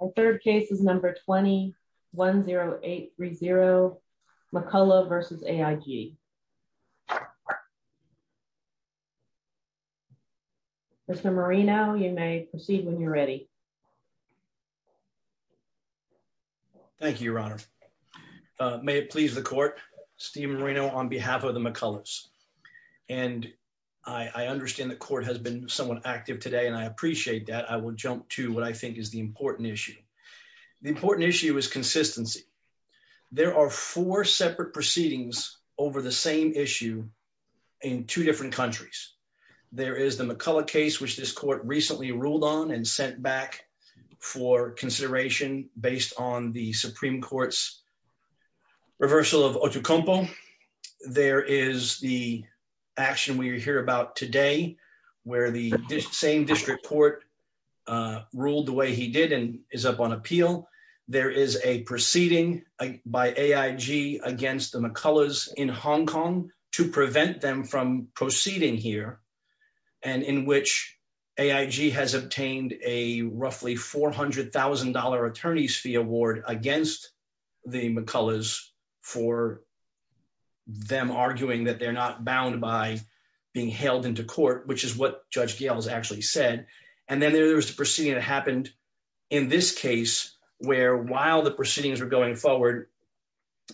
The third case is number 2010830 McCullough v. AIG. Mr. Moreno, you may proceed when you're ready. Thank you, Your Honor. May it please the court, Steve Moreno on behalf of the McCulloughs. And I understand the court has been somewhat active today, and I appreciate that. I will jump to what I think is the important issue. The important issue is consistency. There are four separate proceedings over the same issue in two different countries. There is the McCullough case, which this court recently ruled on and sent back for consideration based on the Supreme Court's reversal of Otocompo. There is the action we hear about today, where the same district court ruled the way he did and is up on appeal. There is a proceeding by AIG against the McCulloughs in Hong Kong to prevent them from proceeding here. And in which AIG has obtained a roughly $400,000 attorney's fee award against the McCulloughs for them arguing that they're not bound by being held into court, which is what Judge Gail has actually said. And then there was a proceeding that happened in this case, where while the proceedings were going forward,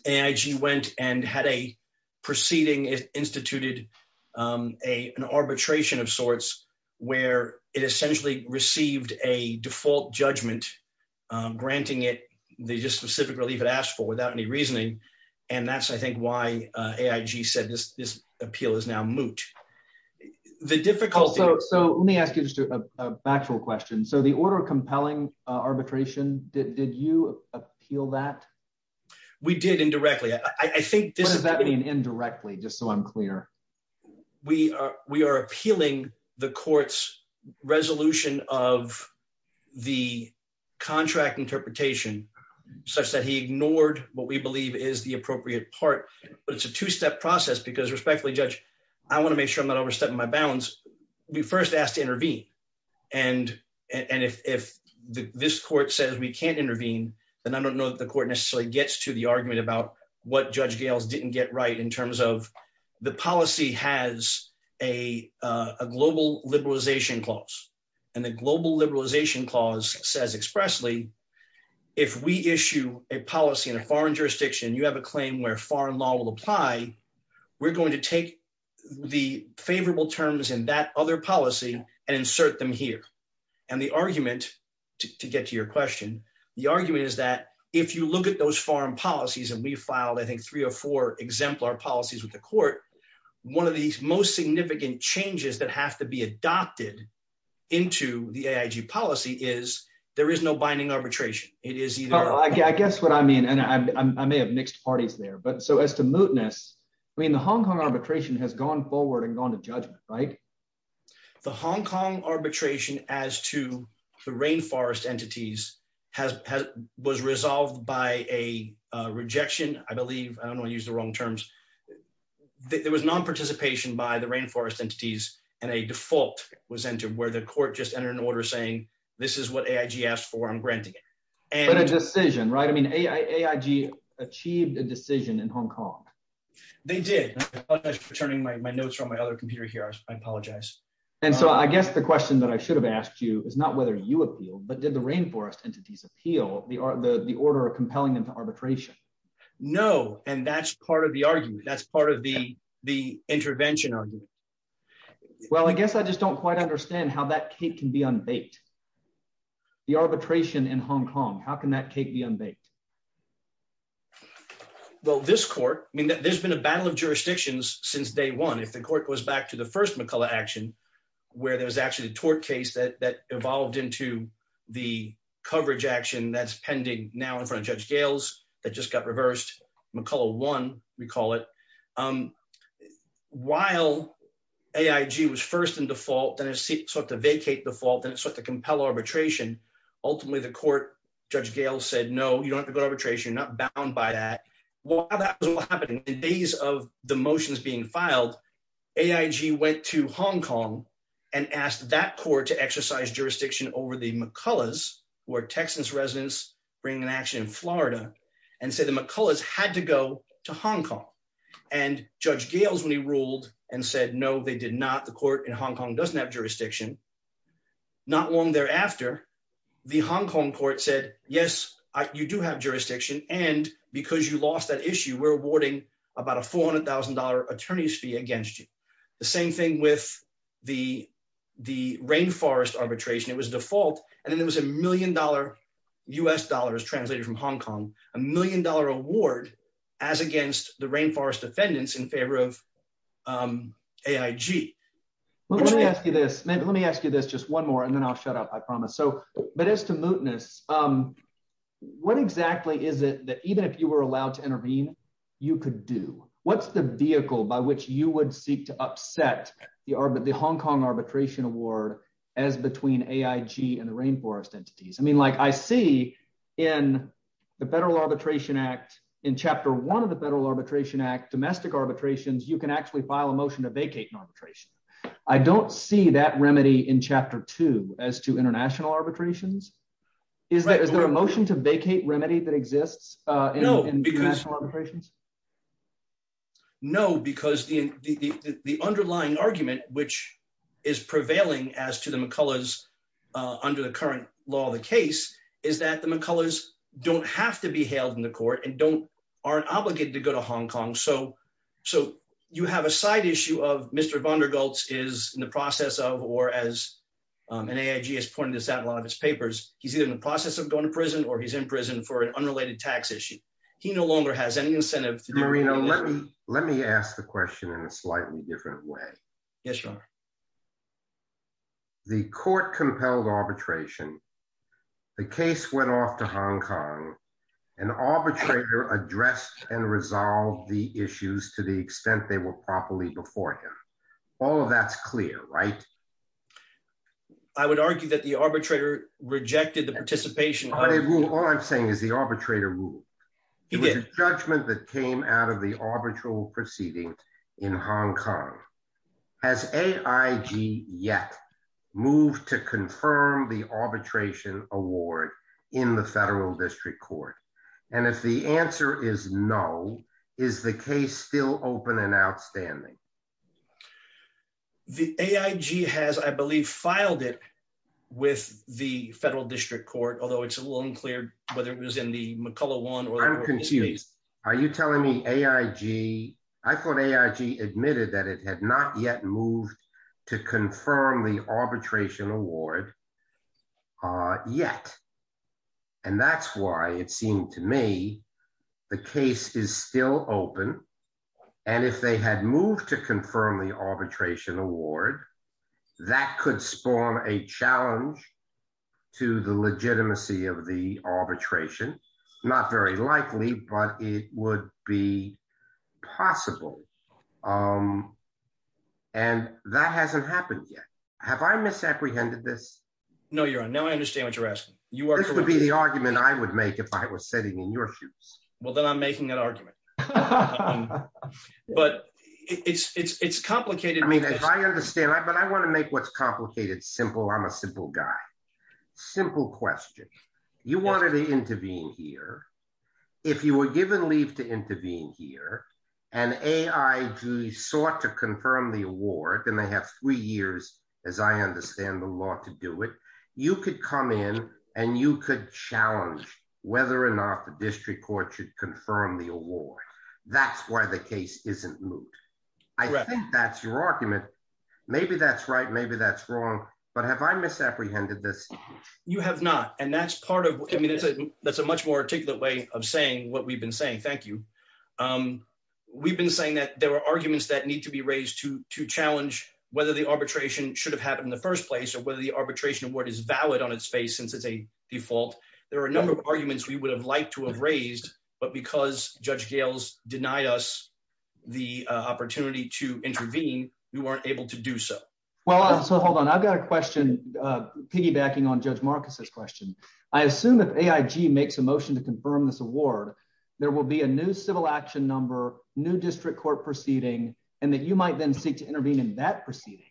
AIG went and had a proceeding, instituted an arbitration of sorts, where it essentially received a default judgment, granting it the specific relief it asked for without any reasoning. And that's, I think, why AIG said this appeal is now moot. So let me ask you just a factual question. So the order of compelling arbitration, did you appeal that? We did indirectly. What does that mean indirectly, just so I'm clear? We are appealing the court's resolution of the contract interpretation, such that he ignored what we believe is the appropriate part. But it's a two-step process, because respectfully, Judge, I want to make sure I'm not overstepping my bounds. We first asked to intervene. And if this court says we can't intervene, then I don't know that the court necessarily gets to the argument about what Judge Gail's didn't get right in terms of the policy has a global liberalization clause. And the global liberalization clause says expressly, if we issue a policy in a foreign jurisdiction, you have a claim where foreign law will apply, we're going to take the favorable terms in that other policy and insert them here. And the argument, to get to your question, the argument is that if you look at those foreign policies, and we filed, I think, three or four exemplar policies with the court, one of the most significant changes that have to be adopted into the AIG policy is there is no binding arbitration. I guess what I mean, and I may have mixed parties there, but so as to mootness, I mean, the Hong Kong arbitration has gone forward and gone to judgment, right? The Hong Kong arbitration as to the rainforest entities was resolved by a rejection, I believe. I don't want to use the wrong terms. There was non-participation by the rainforest entities, and a default was entered where the court just entered an order saying, this is what AIG asked for. I'm granting it. But a decision, right? I mean, AIG achieved a decision in Hong Kong. They did. I apologize for turning my notes from my other computer here. I apologize. And so I guess the question that I should have asked you is not whether you appealed, but did the rainforest entities appeal the order compelling them to arbitration? No, and that's part of the argument. That's part of the intervention argument. Well, I guess I just don't quite understand how that cake can be unbaked. The arbitration in Hong Kong, how can that cake be unbaked? Well, this court, I mean, there's been a battle of jurisdictions since day one. If the court goes back to the first McCullough action, where there was actually a tort case that evolved into the coverage action that's pending now in front of Judge Gales that just got reversed, McCullough won, we call it. While AIG was first in default, then it sought to vacate default, then it sought to compel arbitration, ultimately the court, Judge Gales said, no, you don't have to go to arbitration. You're not bound by that. While that was happening, in the days of the motions being filed, AIG went to Hong Kong and asked that court to exercise jurisdiction over the McCulloughs, where Texans residents bring an action in Florida, and said the McCulloughs had to go to Hong Kong. And Judge Gales, when he ruled and said no, they did not, the court in Hong Kong doesn't have jurisdiction. Not long thereafter, the Hong Kong court said, yes, you do have jurisdiction, and because you lost that issue we're awarding about a $400,000 attorney's fee against you. The same thing with the rainforest arbitration, it was default, and then there was a million dollar, U.S. dollars, translated from Hong Kong, a million dollar award as against the rainforest defendants in favor of AIG. Let me ask you this, just one more, and then I'll shut up, I promise. But as to mootness, what exactly is it that even if you were allowed to intervene, you could do? What's the vehicle by which you would seek to upset the Hong Kong arbitration award as between AIG and the rainforest entities? I mean, I see in the Federal Arbitration Act, in Chapter 1 of the Federal Arbitration Act, domestic arbitrations, you can actually file a motion to vacate an arbitration. I don't see that remedy in Chapter 2 as to international arbitrations. Is there a motion to vacate remedy that exists in international arbitrations? No, because the underlying argument, which is prevailing as to the McCullers under the current law of the case, is that the McCullers don't have to be held in the court and aren't obligated to go to Hong Kong. So, you have a side issue of Mr. Von Der Gultz is in the process of, or as an AIG has pointed this out in a lot of his papers, he's either in the process of going to prison or he's in prison for an unrelated tax issue. He no longer has any incentive. Marina, let me ask the question in a slightly different way. Yes, Your Honor. The court compelled arbitration. The case went off to Hong Kong. An arbitrator addressed and resolved the issues to the extent they were properly before him. All of that's clear, right? I would argue that the arbitrator rejected the participation. All I'm saying is the arbitrator ruled. It was a judgment that came out of the arbitral proceeding in Hong Kong. Has AIG yet moved to confirm the arbitration award in the federal district court? And if the answer is no, is the case still open and outstanding? The AIG has, I believe, filed it with the federal district court, although it's a little unclear whether it was in the McCullough one. Are you telling me AIG? I thought AIG admitted that it had not yet moved to confirm the arbitration award. Yet. And that's why it seemed to me. The case is still open. And if they had moved to confirm the arbitration award, that could spawn a challenge to the legitimacy of the arbitration. Not very likely, but it would be possible. And that hasn't happened yet. Have I misapprehended this? No, Your Honor. Now I understand what you're asking. This would be the argument I would make if I was sitting in your shoes. Well, then I'm making an argument. But it's it's it's complicated. I mean, I understand. But I want to make what's complicated, simple. I'm a simple guy. Simple question. You wanted to intervene here. If you were given leave to intervene here and AIG sought to confirm the award, then they have three years, as I understand the law to do it. You could come in and you could challenge whether or not the district court should confirm the award. That's why the case isn't moved. I think that's your argument. Maybe that's right. Maybe that's wrong. But have I misapprehended this? You have not. And that's part of it. That's a much more articulate way of saying what we've been saying. Thank you. We've been saying that there are arguments that need to be raised to to challenge whether the arbitration should have happened in the first place or whether the arbitration award is valid on its face since it's a default. There are a number of arguments we would have liked to have raised. But because Judge Gales denied us the opportunity to intervene, we weren't able to do so. Well, so hold on. I've got a question piggybacking on Judge Marcus's question. I assume that AIG makes a motion to confirm this award. There will be a new civil action number, new district court proceeding, and that you might then seek to intervene in that proceeding.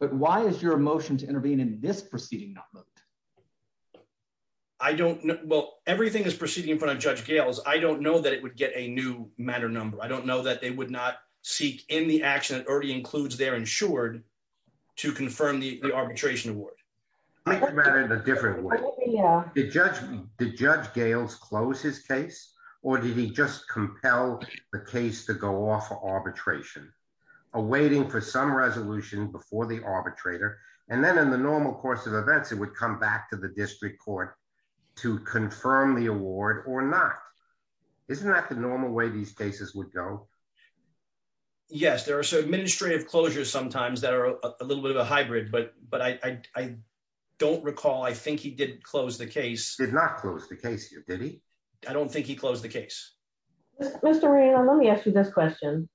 But why is your motion to intervene in this proceeding not moved? I don't know. Well, everything is proceeding in front of Judge Gales. I don't know that it would get a new matter number. I don't know that they would not seek in the action that already includes they're insured to confirm the arbitration award. I think about it in a different way. Did Judge Gales close his case or did he just compel the case to go off for arbitration awaiting for some resolution before the arbitrator? And then in the normal course of events, it would come back to the district court to confirm the award or not. Isn't that the normal way these cases would go? Yes, there are some administrative closures sometimes that are a little bit of a hybrid, but I don't recall. I think he did close the case. Did not close the case here, did he? I don't think he closed the case. Mr. Raynor, let me ask you this question.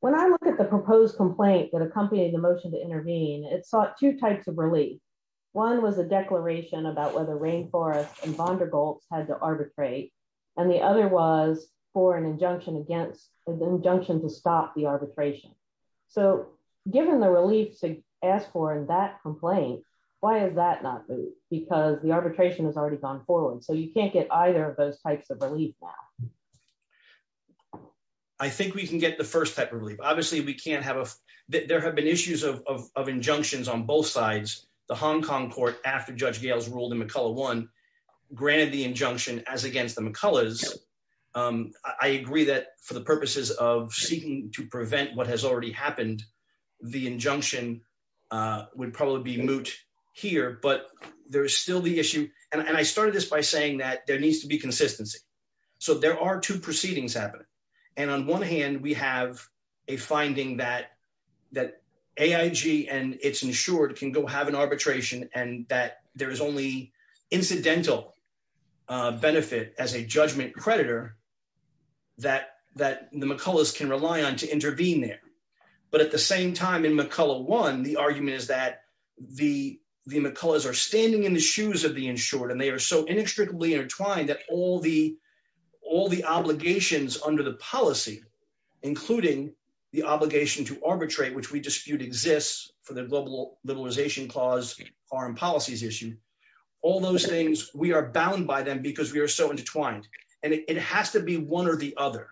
When I look at the proposed complaint that accompanied the motion to intervene, it sought two types of relief. One was a declaration about whether Rainforest and Vondergolt had to arbitrate, and the other was for an injunction to stop the arbitration. So, given the relief to ask for in that complaint, why has that not moved? Because the arbitration has already gone forward, so you can't get either of those types of relief now. I think we can get the first type of relief. Obviously, there have been issues of injunctions on both sides. The Hong Kong court, after Judge Gales ruled in McCullough one, granted the injunction as against the McCulloughs. I agree that for the purposes of seeking to prevent what has already happened, the injunction would probably be moot here, but there's still the issue, and I started this by saying that there needs to be consistency. So, there are two proceedings happening, and on one hand, we have a finding that AIG and its insured can go have an arbitration, and that there is only incidental benefit as a judgment creditor that the McCulloughs can rely on to intervene there. But at the same time, in McCullough one, the argument is that the McCulloughs are standing in the shoes of the insured, and they are so inextricably intertwined that all the obligations under the policy, including the obligation to arbitrate, which we dispute exists for the Global Liberalization Clause foreign policies issue, all those things, we are bound by them because we are so intertwined, and it has to be one or the other,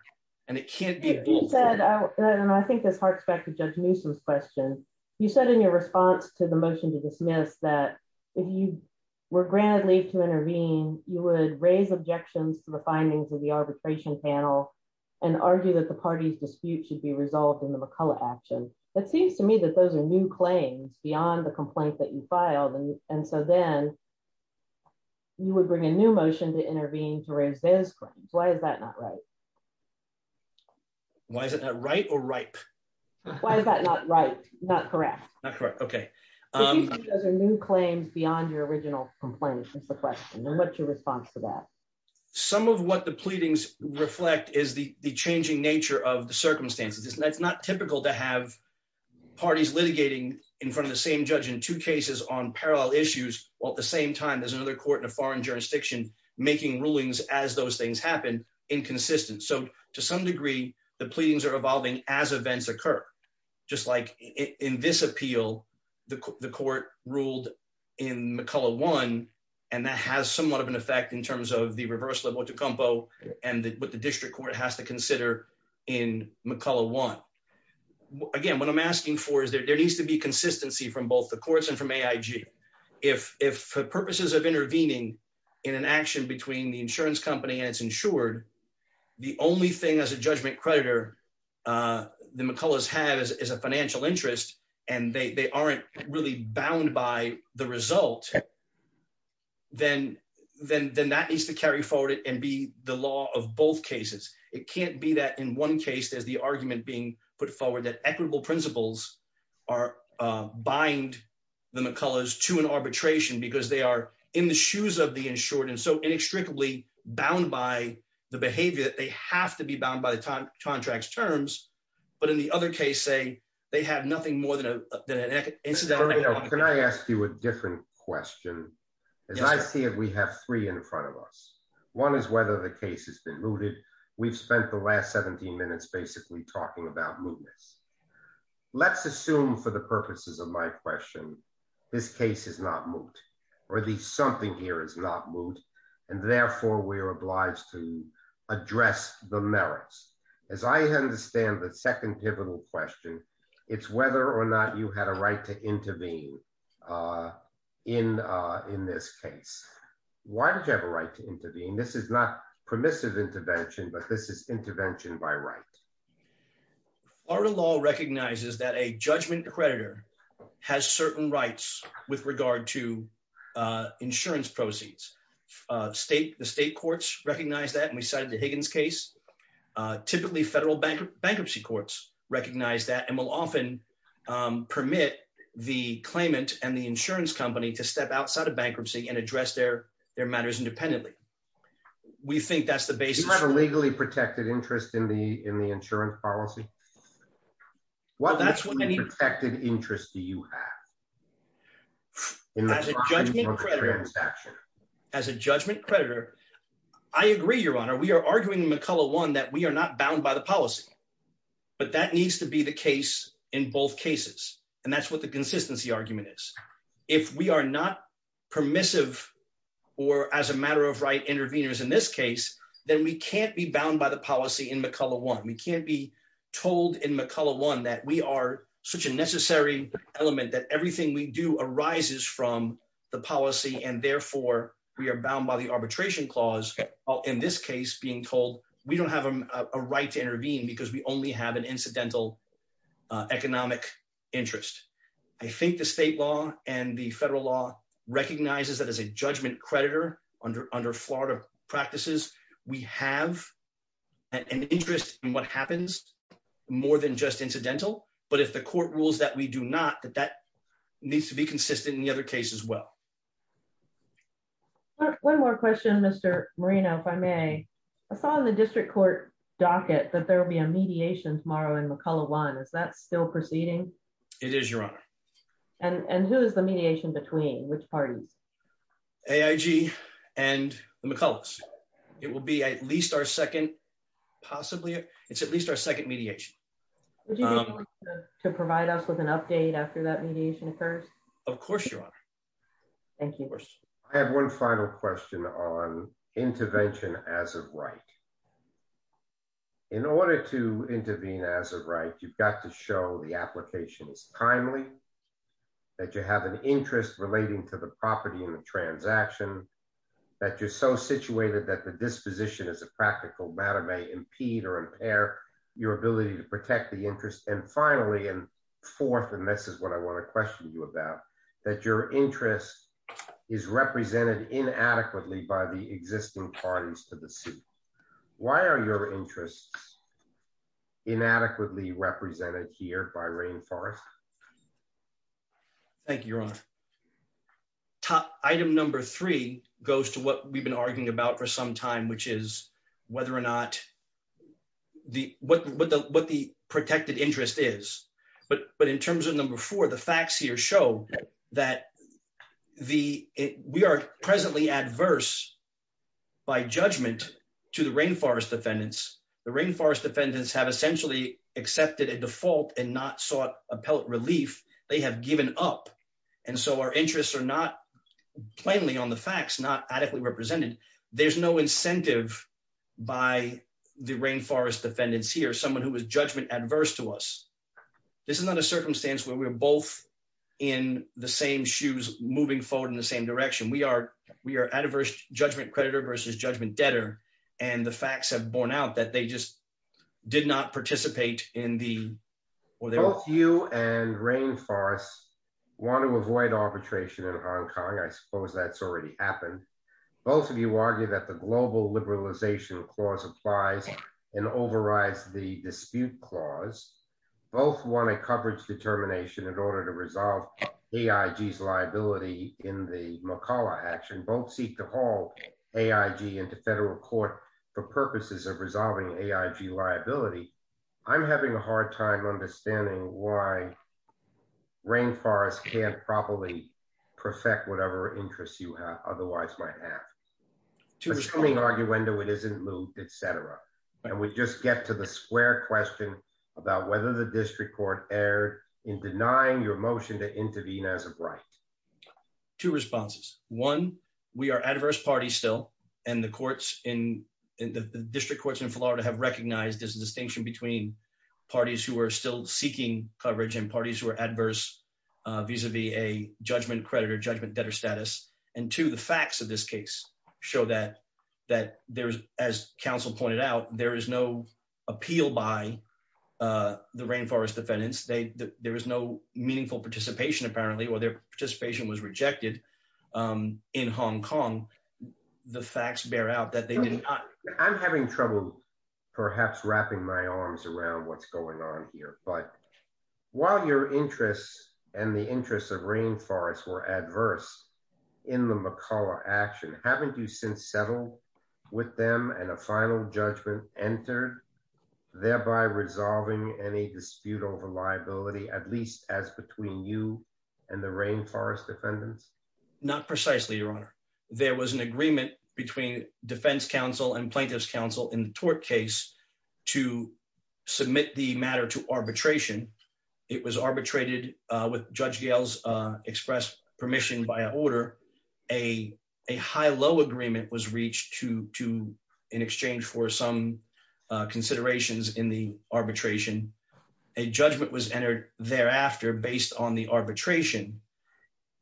and it can't be. You said, and I think this harks back to Judge Newsome's question, you said in your response to the motion to dismiss that if you were granted leave to intervene, you would raise objections to the findings of the arbitration panel and argue that the Why is it not right or ripe. Why is that not right, not correct, not correct. Okay. New claims beyond your original complaint. What's your response to that. Some of what the pleadings reflect is the changing nature of the circumstances it's not typical to have parties litigating in front of the same judge in two cases on parallel issues, while at the same time there's another court in a foreign jurisdiction, making the court ruled in McCullough one, and that has somewhat of an effect in terms of the reverse level to combo, and what the district court has to consider in McCullough one. Again, what I'm asking for is there needs to be consistency from both the courts and from AIG. If, if purposes of intervening in an action between the insurance company and it's insured. The only thing as a judgment creditor. The McCullough's has is a financial interest, and they aren't really bound by the result. Then, then, then that needs to carry forward it and be the law of both cases, it can't be that in one case there's the argument being put forward that equitable principles are bind the McCullough's to an arbitration because they are in the shoes of the Can I ask you a different question. As I see it, we have three in front of us. One is whether the case has been rooted. We've spent the last 17 minutes basically talking about movements. Let's assume for the purposes of my question. This case is not moved, or the something here is not moved, and therefore we are obliged to address the merits, as I understand that second pivotal question. It's whether or not you had a right to intervene. In, in this case, why did you have a right to intervene. This is not permissive intervention, but this is intervention by right. Our law recognizes that a judgment creditor has certain rights with regard to insurance proceeds state the state courts recognize that and we cited the Higgins case. Typically federal bank bankruptcy courts recognize that and will often permit the claimant and the insurance company to step outside of bankruptcy and address their, their matters independently. We think that's the basis of a legally protected interest in the, in the insurance policy. Well, that's what many protected interest do you have. As a judgment. As a judgment creditor. I agree, Your Honor, we are arguing McCullough one that we are not bound by the policy. But that needs to be the case in both cases. And that's what the consistency argument is, if we are not permissive, or as a matter of right interveners in this case, then we can't be bound by the policy in McCullough one we can't be told in McCullough one that we are such a necessary element that everything we do arises from the policy and therefore we are bound by the arbitration clause. In this case being told, we don't have a right to intervene because we only have an incidental economic interest. I think the state law, and the federal law recognizes that as a judgment creditor under under Florida practices, we have an interest in what happens more than just incidental, but if the court rules that we do not that that needs to be consistent in the other cases well. One more question Mr. Marina if I may, I saw the district court docket that there will be a mediation tomorrow and McCullough one is that still proceeding. It is your honor. And who is the mediation between which parties. AIG, and the McCulloughs, it will be at least our second, possibly, it's at least our second mediation to provide us with an update after that mediation occurs. Of course, your honor. Thank you. I have one final question on intervention as a right. In order to intervene as a right you've got to show the applications timely that you have an interest relating to the property in the transaction that you're so situated that the disposition as a practical matter may impede or impair your ability to protect the interest and finally and fourth and this is what I want to question you about that your interest is represented inadequately by the existing parties to the suit. Why are your interests inadequately represented here by rain forest. Thank you. Your honor. Top item number three goes to what we've been arguing about for some time which is whether or not the what what the what the protected interest is, but, but in terms of number four the facts here show that the, we are presently adverse by judgment to the rain forest defendants have essentially accepted a default and not sought appellate relief, they have given up. And so our interests are not plainly on the facts not adequately represented. There's no incentive by the rain forest defendants here someone who was judgment adverse to us. This is not a circumstance where we're both in the same shoes, moving forward in the same direction we are, we are adverse judgment creditor versus judgment debtor, and the facts have borne out that they just did not participate in the, or they will you and rain forest want to avoid arbitration in Hong Kong I suppose that's already happened. Both of you argue that the global liberalization clause applies and overrides the dispute clause. Both want a coverage determination in order to resolve the IDs liability in the McCulloch action both seek to haul AIG into federal court for purposes of resolving AIG liability. I'm having a hard time understanding why rain forest can't properly perfect whatever interests you have otherwise might have to this coming argue into it isn't loop, etc. And we just get to the square question about whether the district court error in denying your motion to intervene as a right to responses. One, we are adverse party still, and the courts in the district courts in Florida have recognized this distinction between parties who are still seeking coverage and parties who are adverse vis a vis a judgment creditor judgment debtor status, and to the facts of this case, show that that there's, as counsel pointed out, there is no appeal by the rain forest defendants there is no meaningful participation apparently or their participation was rejected in Hong Kong. The facts bear out that they didn't. I'm having trouble, perhaps wrapping my arms around what's going on here, but while your interests, and the interests of rainforests were adverse in the McCulloch action haven't you since settled with them and a final judgment entered, thereby resolving any dispute over liability at least as between you and the rain forest defendants, not precisely your honor, there was an agreement between Defense Council and plaintiffs counsel in the tort case to submit the matter to arbitration. It was arbitrated with judge gales express permission by order a high low agreement was reached to to in exchange for some considerations in the arbitration, a judgment was entered thereafter based on the arbitration,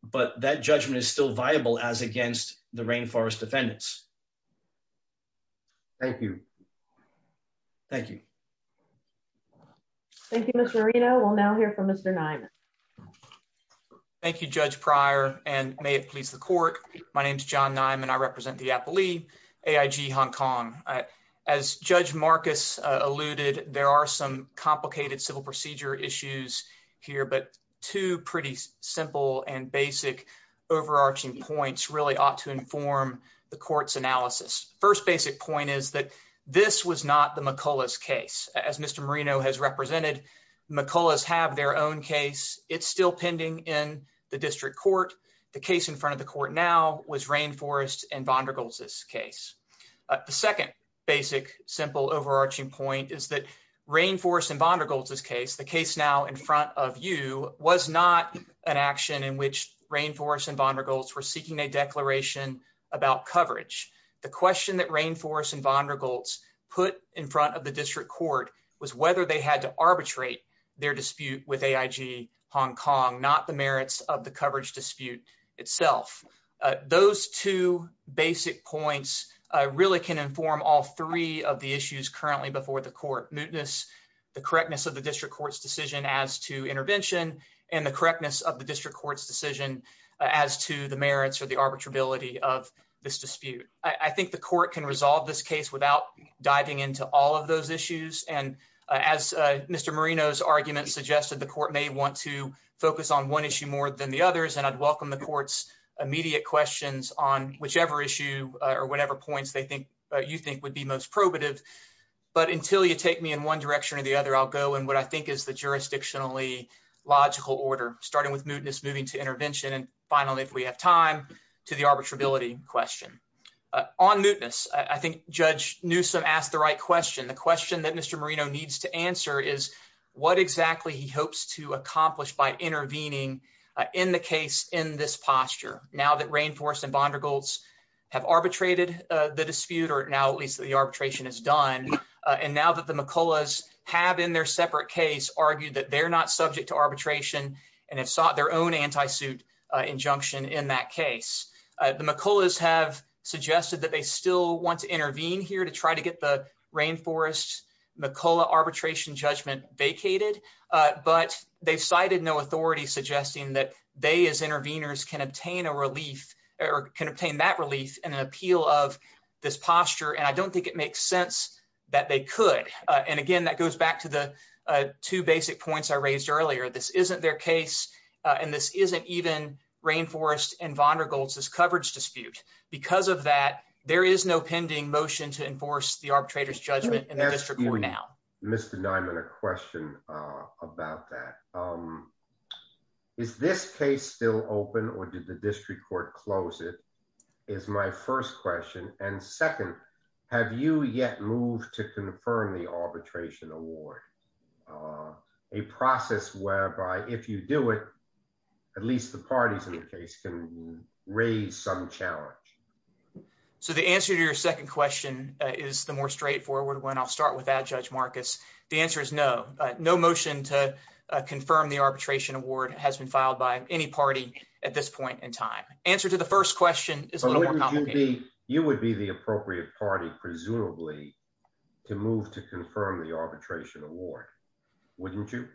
but that judgment is still viable as against the rain forest defendants. Thank you. Thank you. Thank you, Mr Reno will now hear from Mr nine. Thank you, Judge prior, and may it please the court. My name is john nine and I represent the Apple II AIG Hong Kong, as Judge Marcus alluded, there are some complicated civil procedure issues here but two pretty simple and basic overarching points really ought to inform the courts analysis. First basic point is that this was not the McCulloch case as Mr Reno has represented McCulloch have their own case, it's still pending in the district court. The case in front of the court now was rain forest and Vanderbilt's this case. The second basic simple overarching point is that rain forest and Vanderbilt's this case the case now in front of you was not an action in which rain forest and Vanderbilt's we're seeking a declaration about coverage. The question that rain forest and Vanderbilt's put in front of the district court was whether they had to arbitrate their dispute with AIG Hong Kong, not the merits of the coverage dispute itself. Those two basic points really can inform all three of the issues currently before the court mootness, the correctness of the district courts decision as to intervention, and the correctness of the district courts decision as to the merits or the arbitrability of this dispute. I think the court can resolve this case without diving into all of those issues and as Mr Marino's argument suggested the court may want to focus on one issue more than the others and I'd welcome the courts immediate questions on whichever issue or whatever points they think you think would be most probative. But until you take me in one direction or the other I'll go and what I think is the jurisdictionally logical order, starting with mootness moving to intervention and finally if we have time to the arbitrability question on mootness, I think, Judge Newsome asked the right question the question that Mr Marino needs to answer is what exactly he hopes to accomplish by intervening in the case in this posture. Now that Rainforest and Bondergoltz have arbitrated the dispute or now at least the arbitration is done. And now that the McCulloughs have in their separate case argued that they're not subject to arbitration and have sought their own anti-suit injunction in that case. The McCulloughs have suggested that they still want to intervene here to try to get the Rainforest McCullough arbitration judgment vacated, but they cited no authority suggesting that they as interveners can obtain a relief or can obtain that relief and an appeal of this posture and I don't think it makes sense that they could. And again that goes back to the two basic points I raised earlier this isn't their case, and this isn't even Rainforest and Bondergoltz's coverage dispute. Because of that, there is no pending motion to enforce the arbitrator's judgment in the district court now. Mr Dimon, a question about that. Is this case still open or did the district court close it is my first question. And second, have you yet moved to confirm the arbitration award. A process whereby if you do it, at least the parties in the case can raise some challenge. So the answer to your second question is the more straightforward one. I'll start with that, Judge Marcus. The answer is no. No motion to confirm the arbitration award has been filed by any party at this point in time. Answer to the first question is a little more complicated. You would be the appropriate party, presumably, to move to confirm the arbitration award, wouldn't you?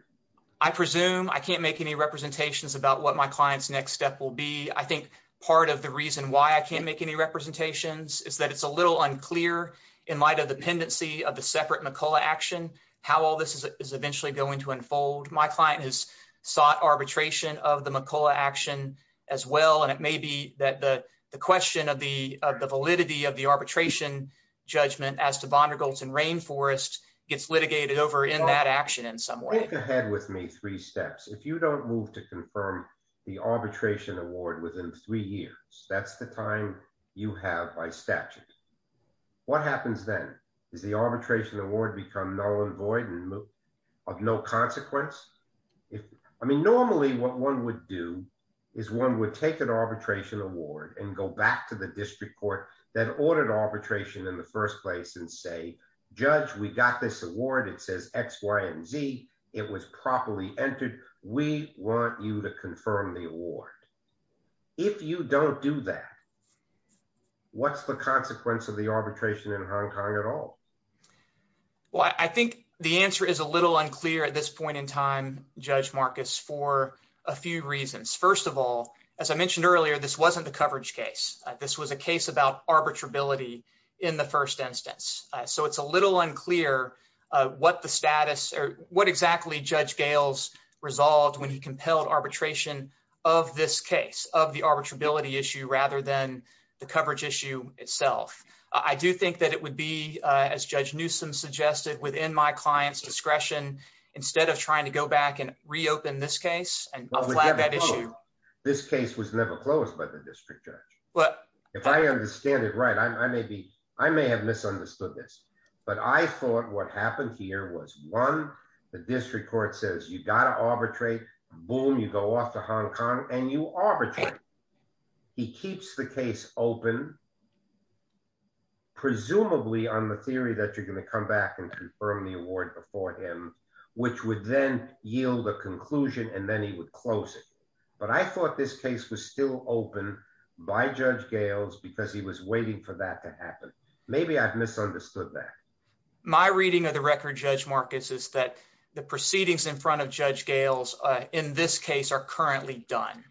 I presume. I can't make any representations about what my client's next step will be. I think part of the reason why I can't make any representations is that it's a little unclear in light of the pendency of the separate McCullough action, how all this is eventually going to unfold. My client has sought arbitration of the McCullough action as well. And it may be that the question of the validity of the arbitration judgment as to Vondergoltz and Rainforest gets litigated over in that action in some way. Think ahead with me three steps. If you don't move to confirm the arbitration award within three years, that's the time you have by statute. What happens then? Does the arbitration award become null and void and of no consequence? Normally, what one would do is one would take an arbitration award and go back to the district court that ordered arbitration in the first place and say, judge, we got this award. It says X, Y, and Z. It was properly entered. We want you to confirm the award. If you don't do that, what's the consequence of the arbitration in Hong Kong at all? Well, I think the answer is a little unclear at this point in time, Judge Marcus, for a few reasons. First of all, as I mentioned earlier, this wasn't the coverage case. This was a case about arbitrability in the first instance. So it's a little unclear what exactly Judge Gales resolved when he compelled arbitration of this case, of the arbitrability issue, rather than the coverage issue itself. I do think that it would be, as Judge Newsom suggested, within my client's discretion, instead of trying to go back and reopen this case and flat that issue. This case was never closed by the district judge. If I understand it right, I may have misunderstood this, but I thought what happened here was, one, the district court says you've got to arbitrate. Boom, you go off to Hong Kong and you arbitrate. He keeps the case open, presumably on the theory that you're going to come back and confirm the award before him, which would then yield a conclusion and then he would close it. But I thought this case was still open by Judge Gales because he was waiting for that to happen. Maybe I've misunderstood that. My reading of the record, Judge Marcus, is that the proceedings in front of Judge Gales in this case are currently done.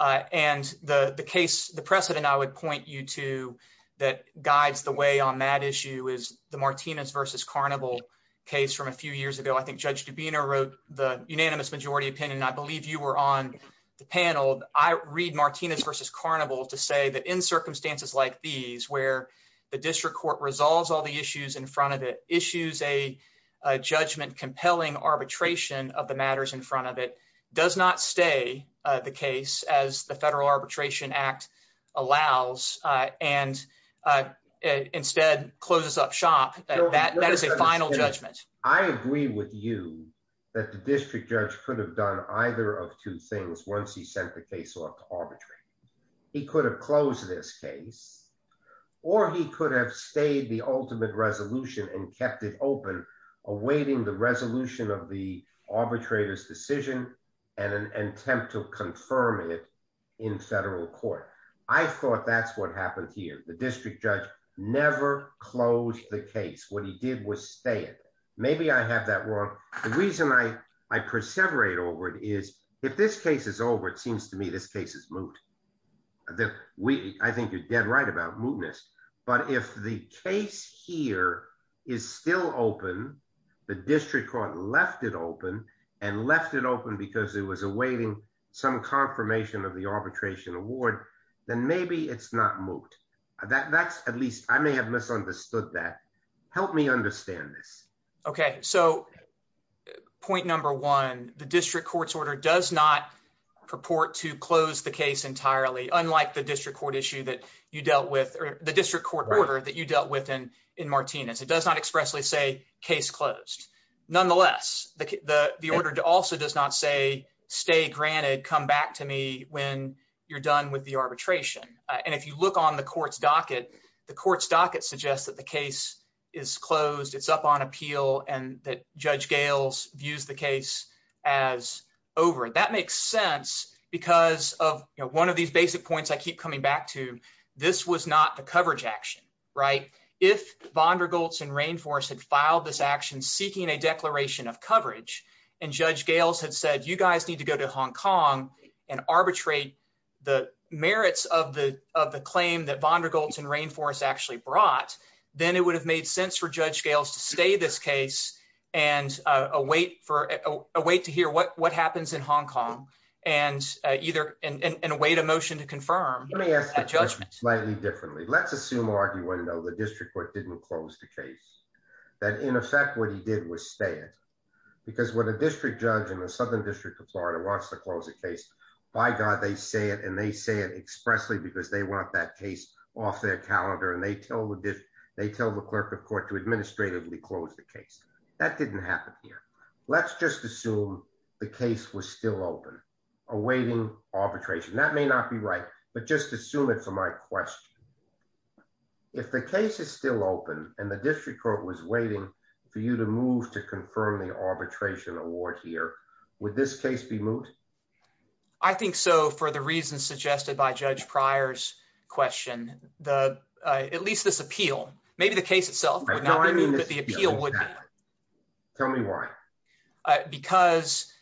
And the precedent I would point you to that guides the way on that issue is the Martinez v. Carnival case from a few years ago. I think Judge Dubino wrote the unanimous majority opinion. I believe you were on the panel. I read Martinez v. Carnival to say that in circumstances like these, where the district court resolves all the issues in front of it, issues a judgment-compelling arbitration of the matters in front of it, does not stay the case as the Federal Arbitration Act allows and instead closes up shop. That is a final judgment. I agree with you that the district judge could have done either of two things once he sent the case off to arbitrate. He could have closed this case or he could have stayed the ultimate resolution and kept it open, awaiting the resolution of the arbitrator's decision and an attempt to confirm it in federal court. I thought that's what happened here. The district judge never closed the case. What he did was stay it. Maybe I have that wrong. The reason I perseverate over it is if this case is over, it seems to me this case is moot. I think you're dead right about mootness. But if the case here is still open, the district court left it open, and left it open because it was awaiting some confirmation of the arbitration award, then maybe it's not moot. At least I may have misunderstood that. Help me understand this. Okay, so point number one, the district court's order does not purport to close the case entirely, unlike the district court order that you dealt with in Martinez. It does not expressly say case closed. Nonetheless, the order also does not say stay granted, come back to me when you're done with the arbitration. And if you look on the court's docket, the court's docket suggests that the case is closed, it's up on appeal, and that Judge Gales views the case as over. That makes sense because of one of these basic points I keep coming back to. This was not the coverage action, right? If Vondergoltz and Rainforest had filed this action seeking a declaration of coverage, and Judge Gales had said, you guys need to go to Hong Kong and arbitrate the merits of the claim that Vondergoltz and Rainforest actually brought, then it would have made sense for Judge Gales to stay this case and await to hear what happens in Hong Kong, and await a motion to confirm that judgment. Let's do it slightly differently. Let's assume, argue, and know the district court didn't close the case, that in effect what he did was stay it. Because when a district judge in the Southern District of Florida wants to close a case, by God, they say it, and they say it expressly because they want that case off their calendar and they tell the clerk of court to administratively close the case. That didn't happen here. Let's just assume the case was still open, awaiting arbitration. That may not be right, but just assume it for my question. If the case is still open and the district court was waiting for you to move to confirm the arbitration award here, would this case be moved? I think so, for the reasons suggested by Judge Pryor's question. At least this appeal. Maybe the case itself would not be moved, but the appeal would be. Tell me why. Because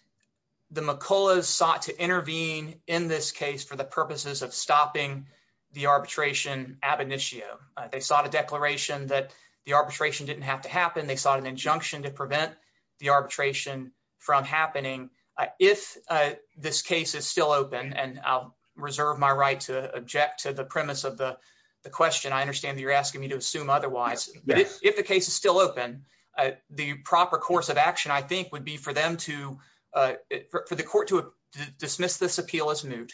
the McCulloughs sought to intervene in this case for the purposes of stopping the arbitration ab initio. They sought a declaration that the arbitration didn't have to happen. They sought an injunction to prevent the arbitration from happening. If this case is still open, and I'll reserve my right to object to the premise of the question. I understand that you're asking me to assume otherwise. If the case is still open, the proper course of action, I think, would be for the court to dismiss this appeal as moot.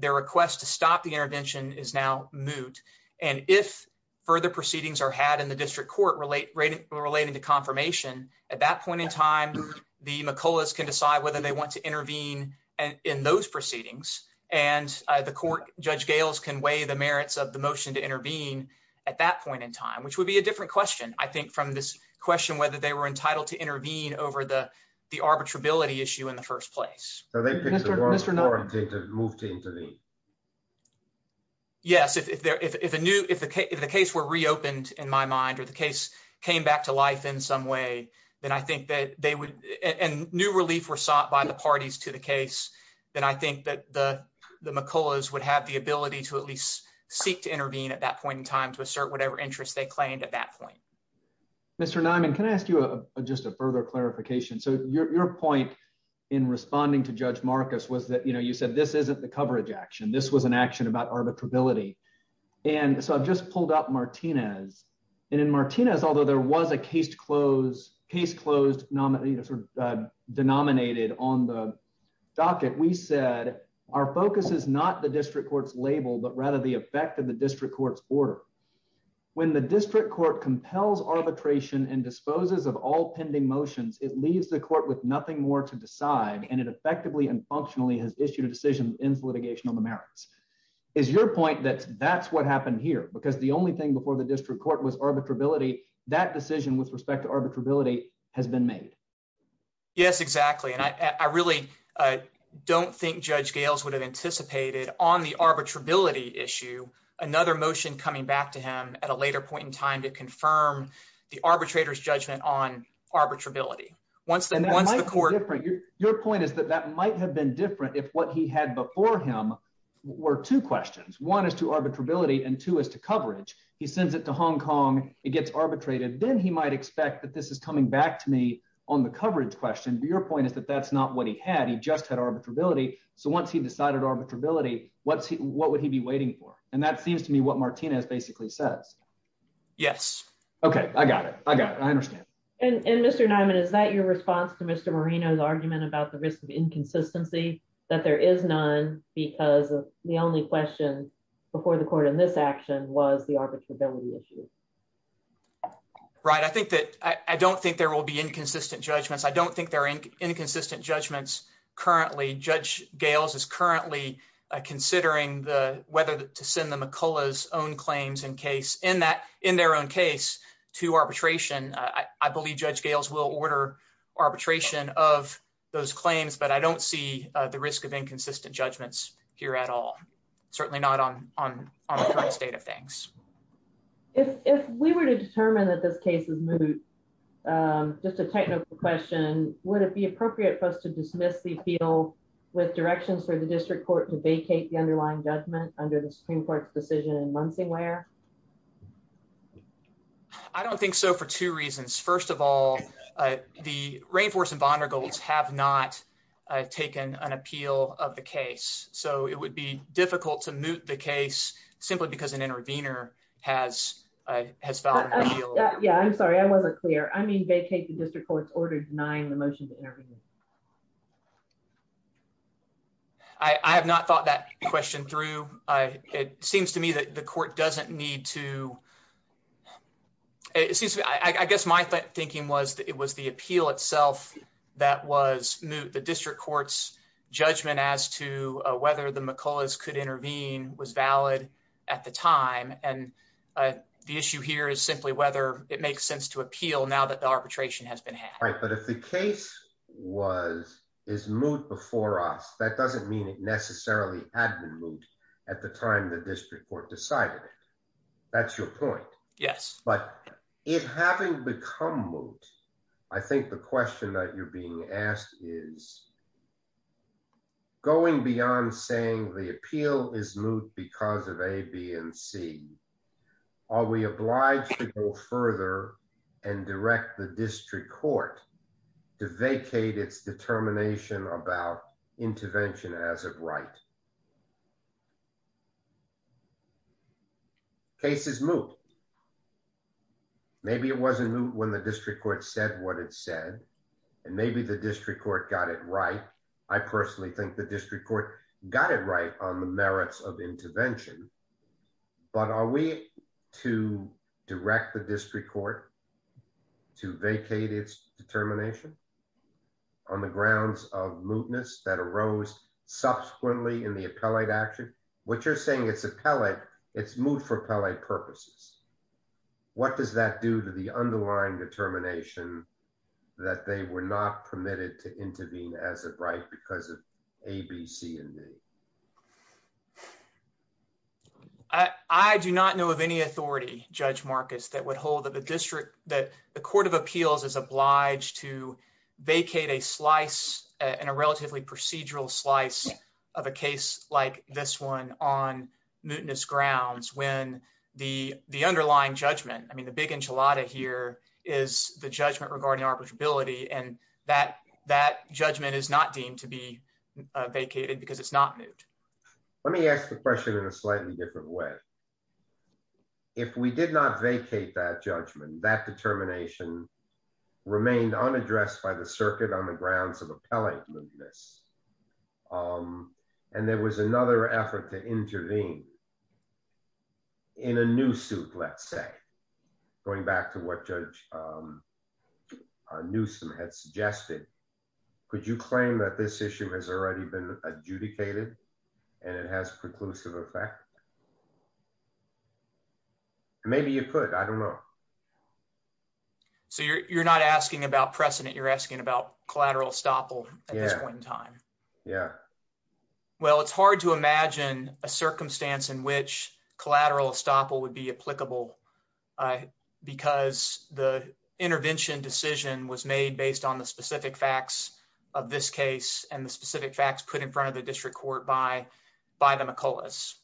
Their request to stop the intervention is now moot. And if further proceedings are had in the district court relating to confirmation, at that point in time, the McCulloughs can decide whether they want to intervene in those proceedings. And the court, Judge Gales, can weigh the merits of the motion to intervene at that point in time, which would be a different question, I think, from this question whether they were entitled to intervene over the arbitrability issue in the first place. Mr. Niman. Yes, if the case were reopened, in my mind, or the case came back to life in some way, and new relief were sought by the parties to the case, then I think that the McCulloughs would have the ability to at least seek to intervene at that point in time to assert whatever interest they claimed at that point. Mr. Niman, can I ask you just a further clarification? So your point in responding to Judge Marcus was that, you know, you said this isn't the coverage action, this was an action about arbitrability. And so I've just pulled up Martinez. And in Martinez, although there was a case closed, case closed, denominated on the docket, we said, our focus is not the district court's label, but rather the effect of the district court's order. When the district court compels arbitration and disposes of all pending motions, it leaves the court with nothing more to decide, and it effectively and functionally has issued a decision that ends litigation on the merits. Is your point that that's what happened here? Because the only thing before the district court was arbitrability, that decision with respect to arbitrability has been made? Yes, exactly. And I really don't think Judge Gales would have anticipated on the arbitrability issue, another motion coming back to him at a later point in time to confirm the arbitrator's judgment on arbitrability. Your point is that that might have been different if what he had before him were two questions. One is to arbitrability and two is to coverage. He sends it to Hong Kong, it gets arbitrated, then he might expect that this is coming back to me on the coverage question. Your point is that that's not what he had. He just had arbitrability. So once he decided arbitrability, what would he be waiting for? And that seems to me what Martinez basically says. Yes. Okay, I got it. I got it. I understand. And Mr. Nyman, is that your response to Mr. Marino's argument about the risk of inconsistency, that there is none because the only question before the court in this action was the arbitrability issue? Right. I don't think there will be inconsistent judgments. I don't think there are inconsistent judgments currently. Judge Gales is currently considering whether to send the McCullough's own claims in their own case to arbitration. I believe Judge Gales will order arbitration of those claims, but I don't see the risk of inconsistent judgments here at all. Certainly not on the current state of things. If we were to determine that this case is moot, just a technical question, would it be appropriate for us to dismiss the appeal with directions for the district court to vacate the underlying judgment under the Supreme Court's decision in Munsingware? I don't think so for two reasons. First of all, the Rainforest and Bondergolds have not taken an appeal of the case, so it would be difficult to moot the case simply because an intervener has filed an appeal. Yeah, I'm sorry, I wasn't clear. I mean vacate the district court's order denying the motion to intervene. I have not thought that question through. It seems to me that the court doesn't need to. I guess my thinking was that it was the appeal itself that was moot. The district court's judgment as to whether the McCullough's could intervene was valid at the time, and the issue here is simply whether it makes sense to appeal now that the arbitration has been had. Right, but if the case is moot before us, that doesn't mean it necessarily had been moot at the time the district court decided it. That's your point. Yes. But it having become moot, I think the question that you're being asked is, going beyond saying the appeal is moot because of A, B, and C, are we obliged to go further and direct the district court to vacate its determination about intervention as of right? Case is moot. Maybe it wasn't moot when the district court said what it said, and maybe the district court got it right. I personally think the district court got it right on the merits of intervention. But are we to direct the district court to vacate its determination on the grounds of mootness that arose subsequently in the appellate action? What you're saying it's appellate, it's moot for appellate purposes. What does that do to the underlying determination that they were not permitted to intervene as of right because of A, B, C, and D? I do not know of any authority, Judge Marcus, that would hold that the court of appeals is obliged to vacate a slice and a relatively procedural slice of a case like this one on mootness grounds when the underlying judgment, I mean the big enchilada here, is the judgment regarding arbitrability and that judgment is not deemed to be vacated because it's not moot. Let me ask the question in a slightly different way. If we did not vacate that judgment, that determination remained unaddressed by the circuit on the grounds of appellate mootness, and there was another effort to intervene in a new suit, let's say. Going back to what Judge Newsom had suggested, could you claim that this issue has already been adjudicated and it has preclusive effect? Maybe you could, I don't know. So you're not asking about precedent, you're asking about collateral estoppel at this point in time? Yeah. Well, it's hard to imagine a circumstance in which collateral estoppel would be applicable because the intervention decision was made based on the specific facts of this case and the specific facts put in front of the district court by the McCulloughs.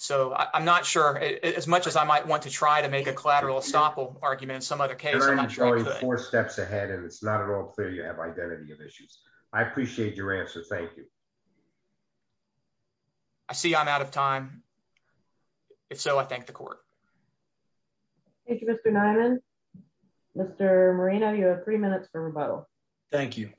So I'm not sure, as much as I might want to try to make a collateral estoppel argument in some other case, I'm not sure. You're going four steps ahead and it's not at all clear you have identity of issues. I appreciate your answer. Thank you. I see I'm out of time. If so, I thank the court. Thank you, Mr. Nyman. Mr. Moreno, you have three minutes for rebuttal. Thank you.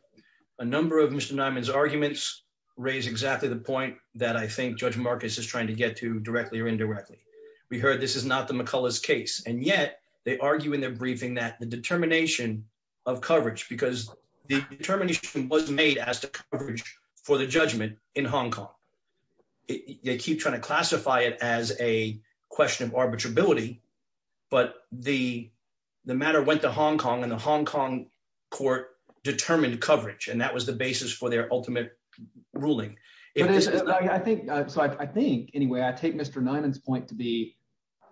A number of Mr. Nyman's arguments raise exactly the point that I think Judge Marcus is trying to get to directly or indirectly. We heard this is not the McCulloughs case, and yet they argue in their briefing that the determination of coverage, because the determination was made as to coverage for the judgment in Hong Kong. They keep trying to classify it as a question of arbitrability, but the matter went to Hong Kong and the Hong Kong court determined coverage and that was the basis for their ultimate ruling. I think so. I think anyway, I take Mr. Nyman's point to be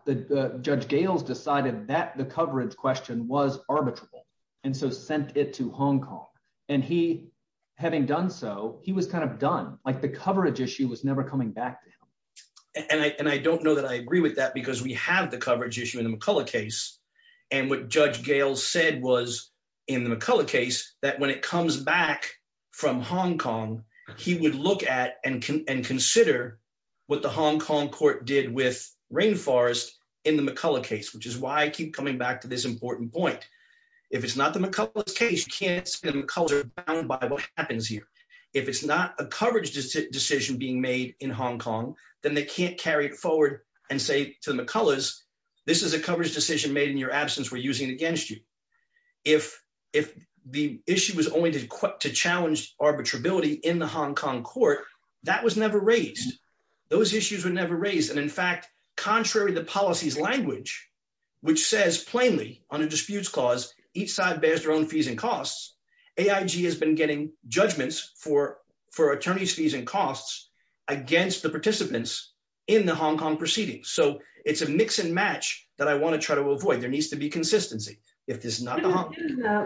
that Judge Gales decided that the coverage question was arbitrable and so sent it to Hong Kong. And he having done so, he was kind of done like the coverage issue was never coming back to him. And I don't know that I agree with that because we have the coverage issue in the McCullough case. And what Judge Gales said was in the McCullough case that when it comes back from Hong Kong, he would look at and consider what the Hong Kong court did with Rainforest in the McCullough case which is why I keep coming back to this important point. If it's not the McCullough case, you can't say the McCulloughs are bound by what happens here. If it's not a coverage decision being made in Hong Kong, then they can't carry it forward and say to the McCulloughs, this is a coverage decision made in your absence, we're using it against you. If the issue was only to challenge arbitrability in the Hong Kong court, that was never raised. Those issues were never raised. And in fact, contrary to the policy's language, which says plainly on a disputes clause, each side bears their own fees and costs, AIG has been getting judgments for and against the participants in the Hong Kong proceedings. So, it's a mix and match that I want to try to avoid. There needs to be consistency. If it's not the Hong Kong.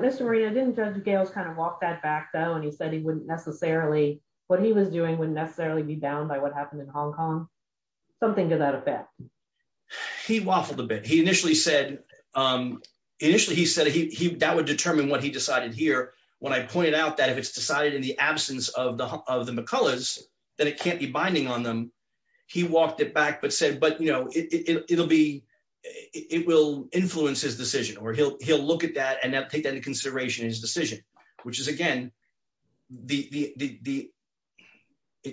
Mr. Maria, didn't Judge Gales kind of walk that back though and he said he wouldn't necessarily, what he was doing wouldn't necessarily be bound by what happened in Hong Kong? Something to that effect. He waffled a bit. He initially said, that would determine what he decided here. When I pointed out that if it's decided in the absence of the McCulloughs, then it can't be binding on them. He walked it back but said, but you know, it'll be, it will influence his decision or he'll look at that and take that into consideration in his decision, which is again, it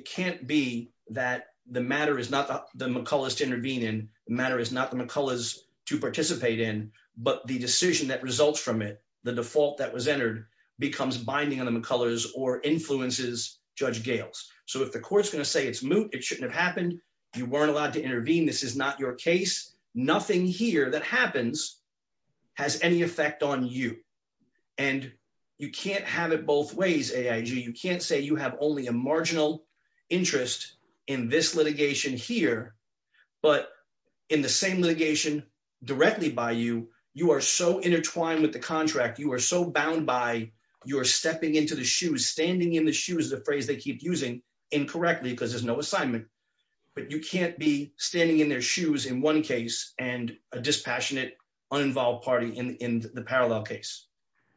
can't be that the matter is not the McCulloughs to intervene in, the matter is not the McCulloughs to participate in, but the decision that results from it, the default that was entered becomes binding on the McCulloughs or influences Judge Gales. So if the court's going to say it's moot, it shouldn't have happened. You weren't allowed to intervene. This is not your case. Nothing here that happens has any effect on you. And you can't have it both ways AIG. You can't say you have only a marginal interest in this litigation here. But in the same litigation directly by you, you are so intertwined with the contract you are so bound by you're stepping into the shoes standing in the shoes the phrase they keep using incorrectly because there's no assignment. But you can't be standing in their shoes in one case, and a dispassionate uninvolved party in the parallel case.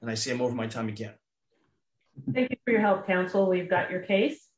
And I see him over my time again. Thank you for your help counsel we've got your case.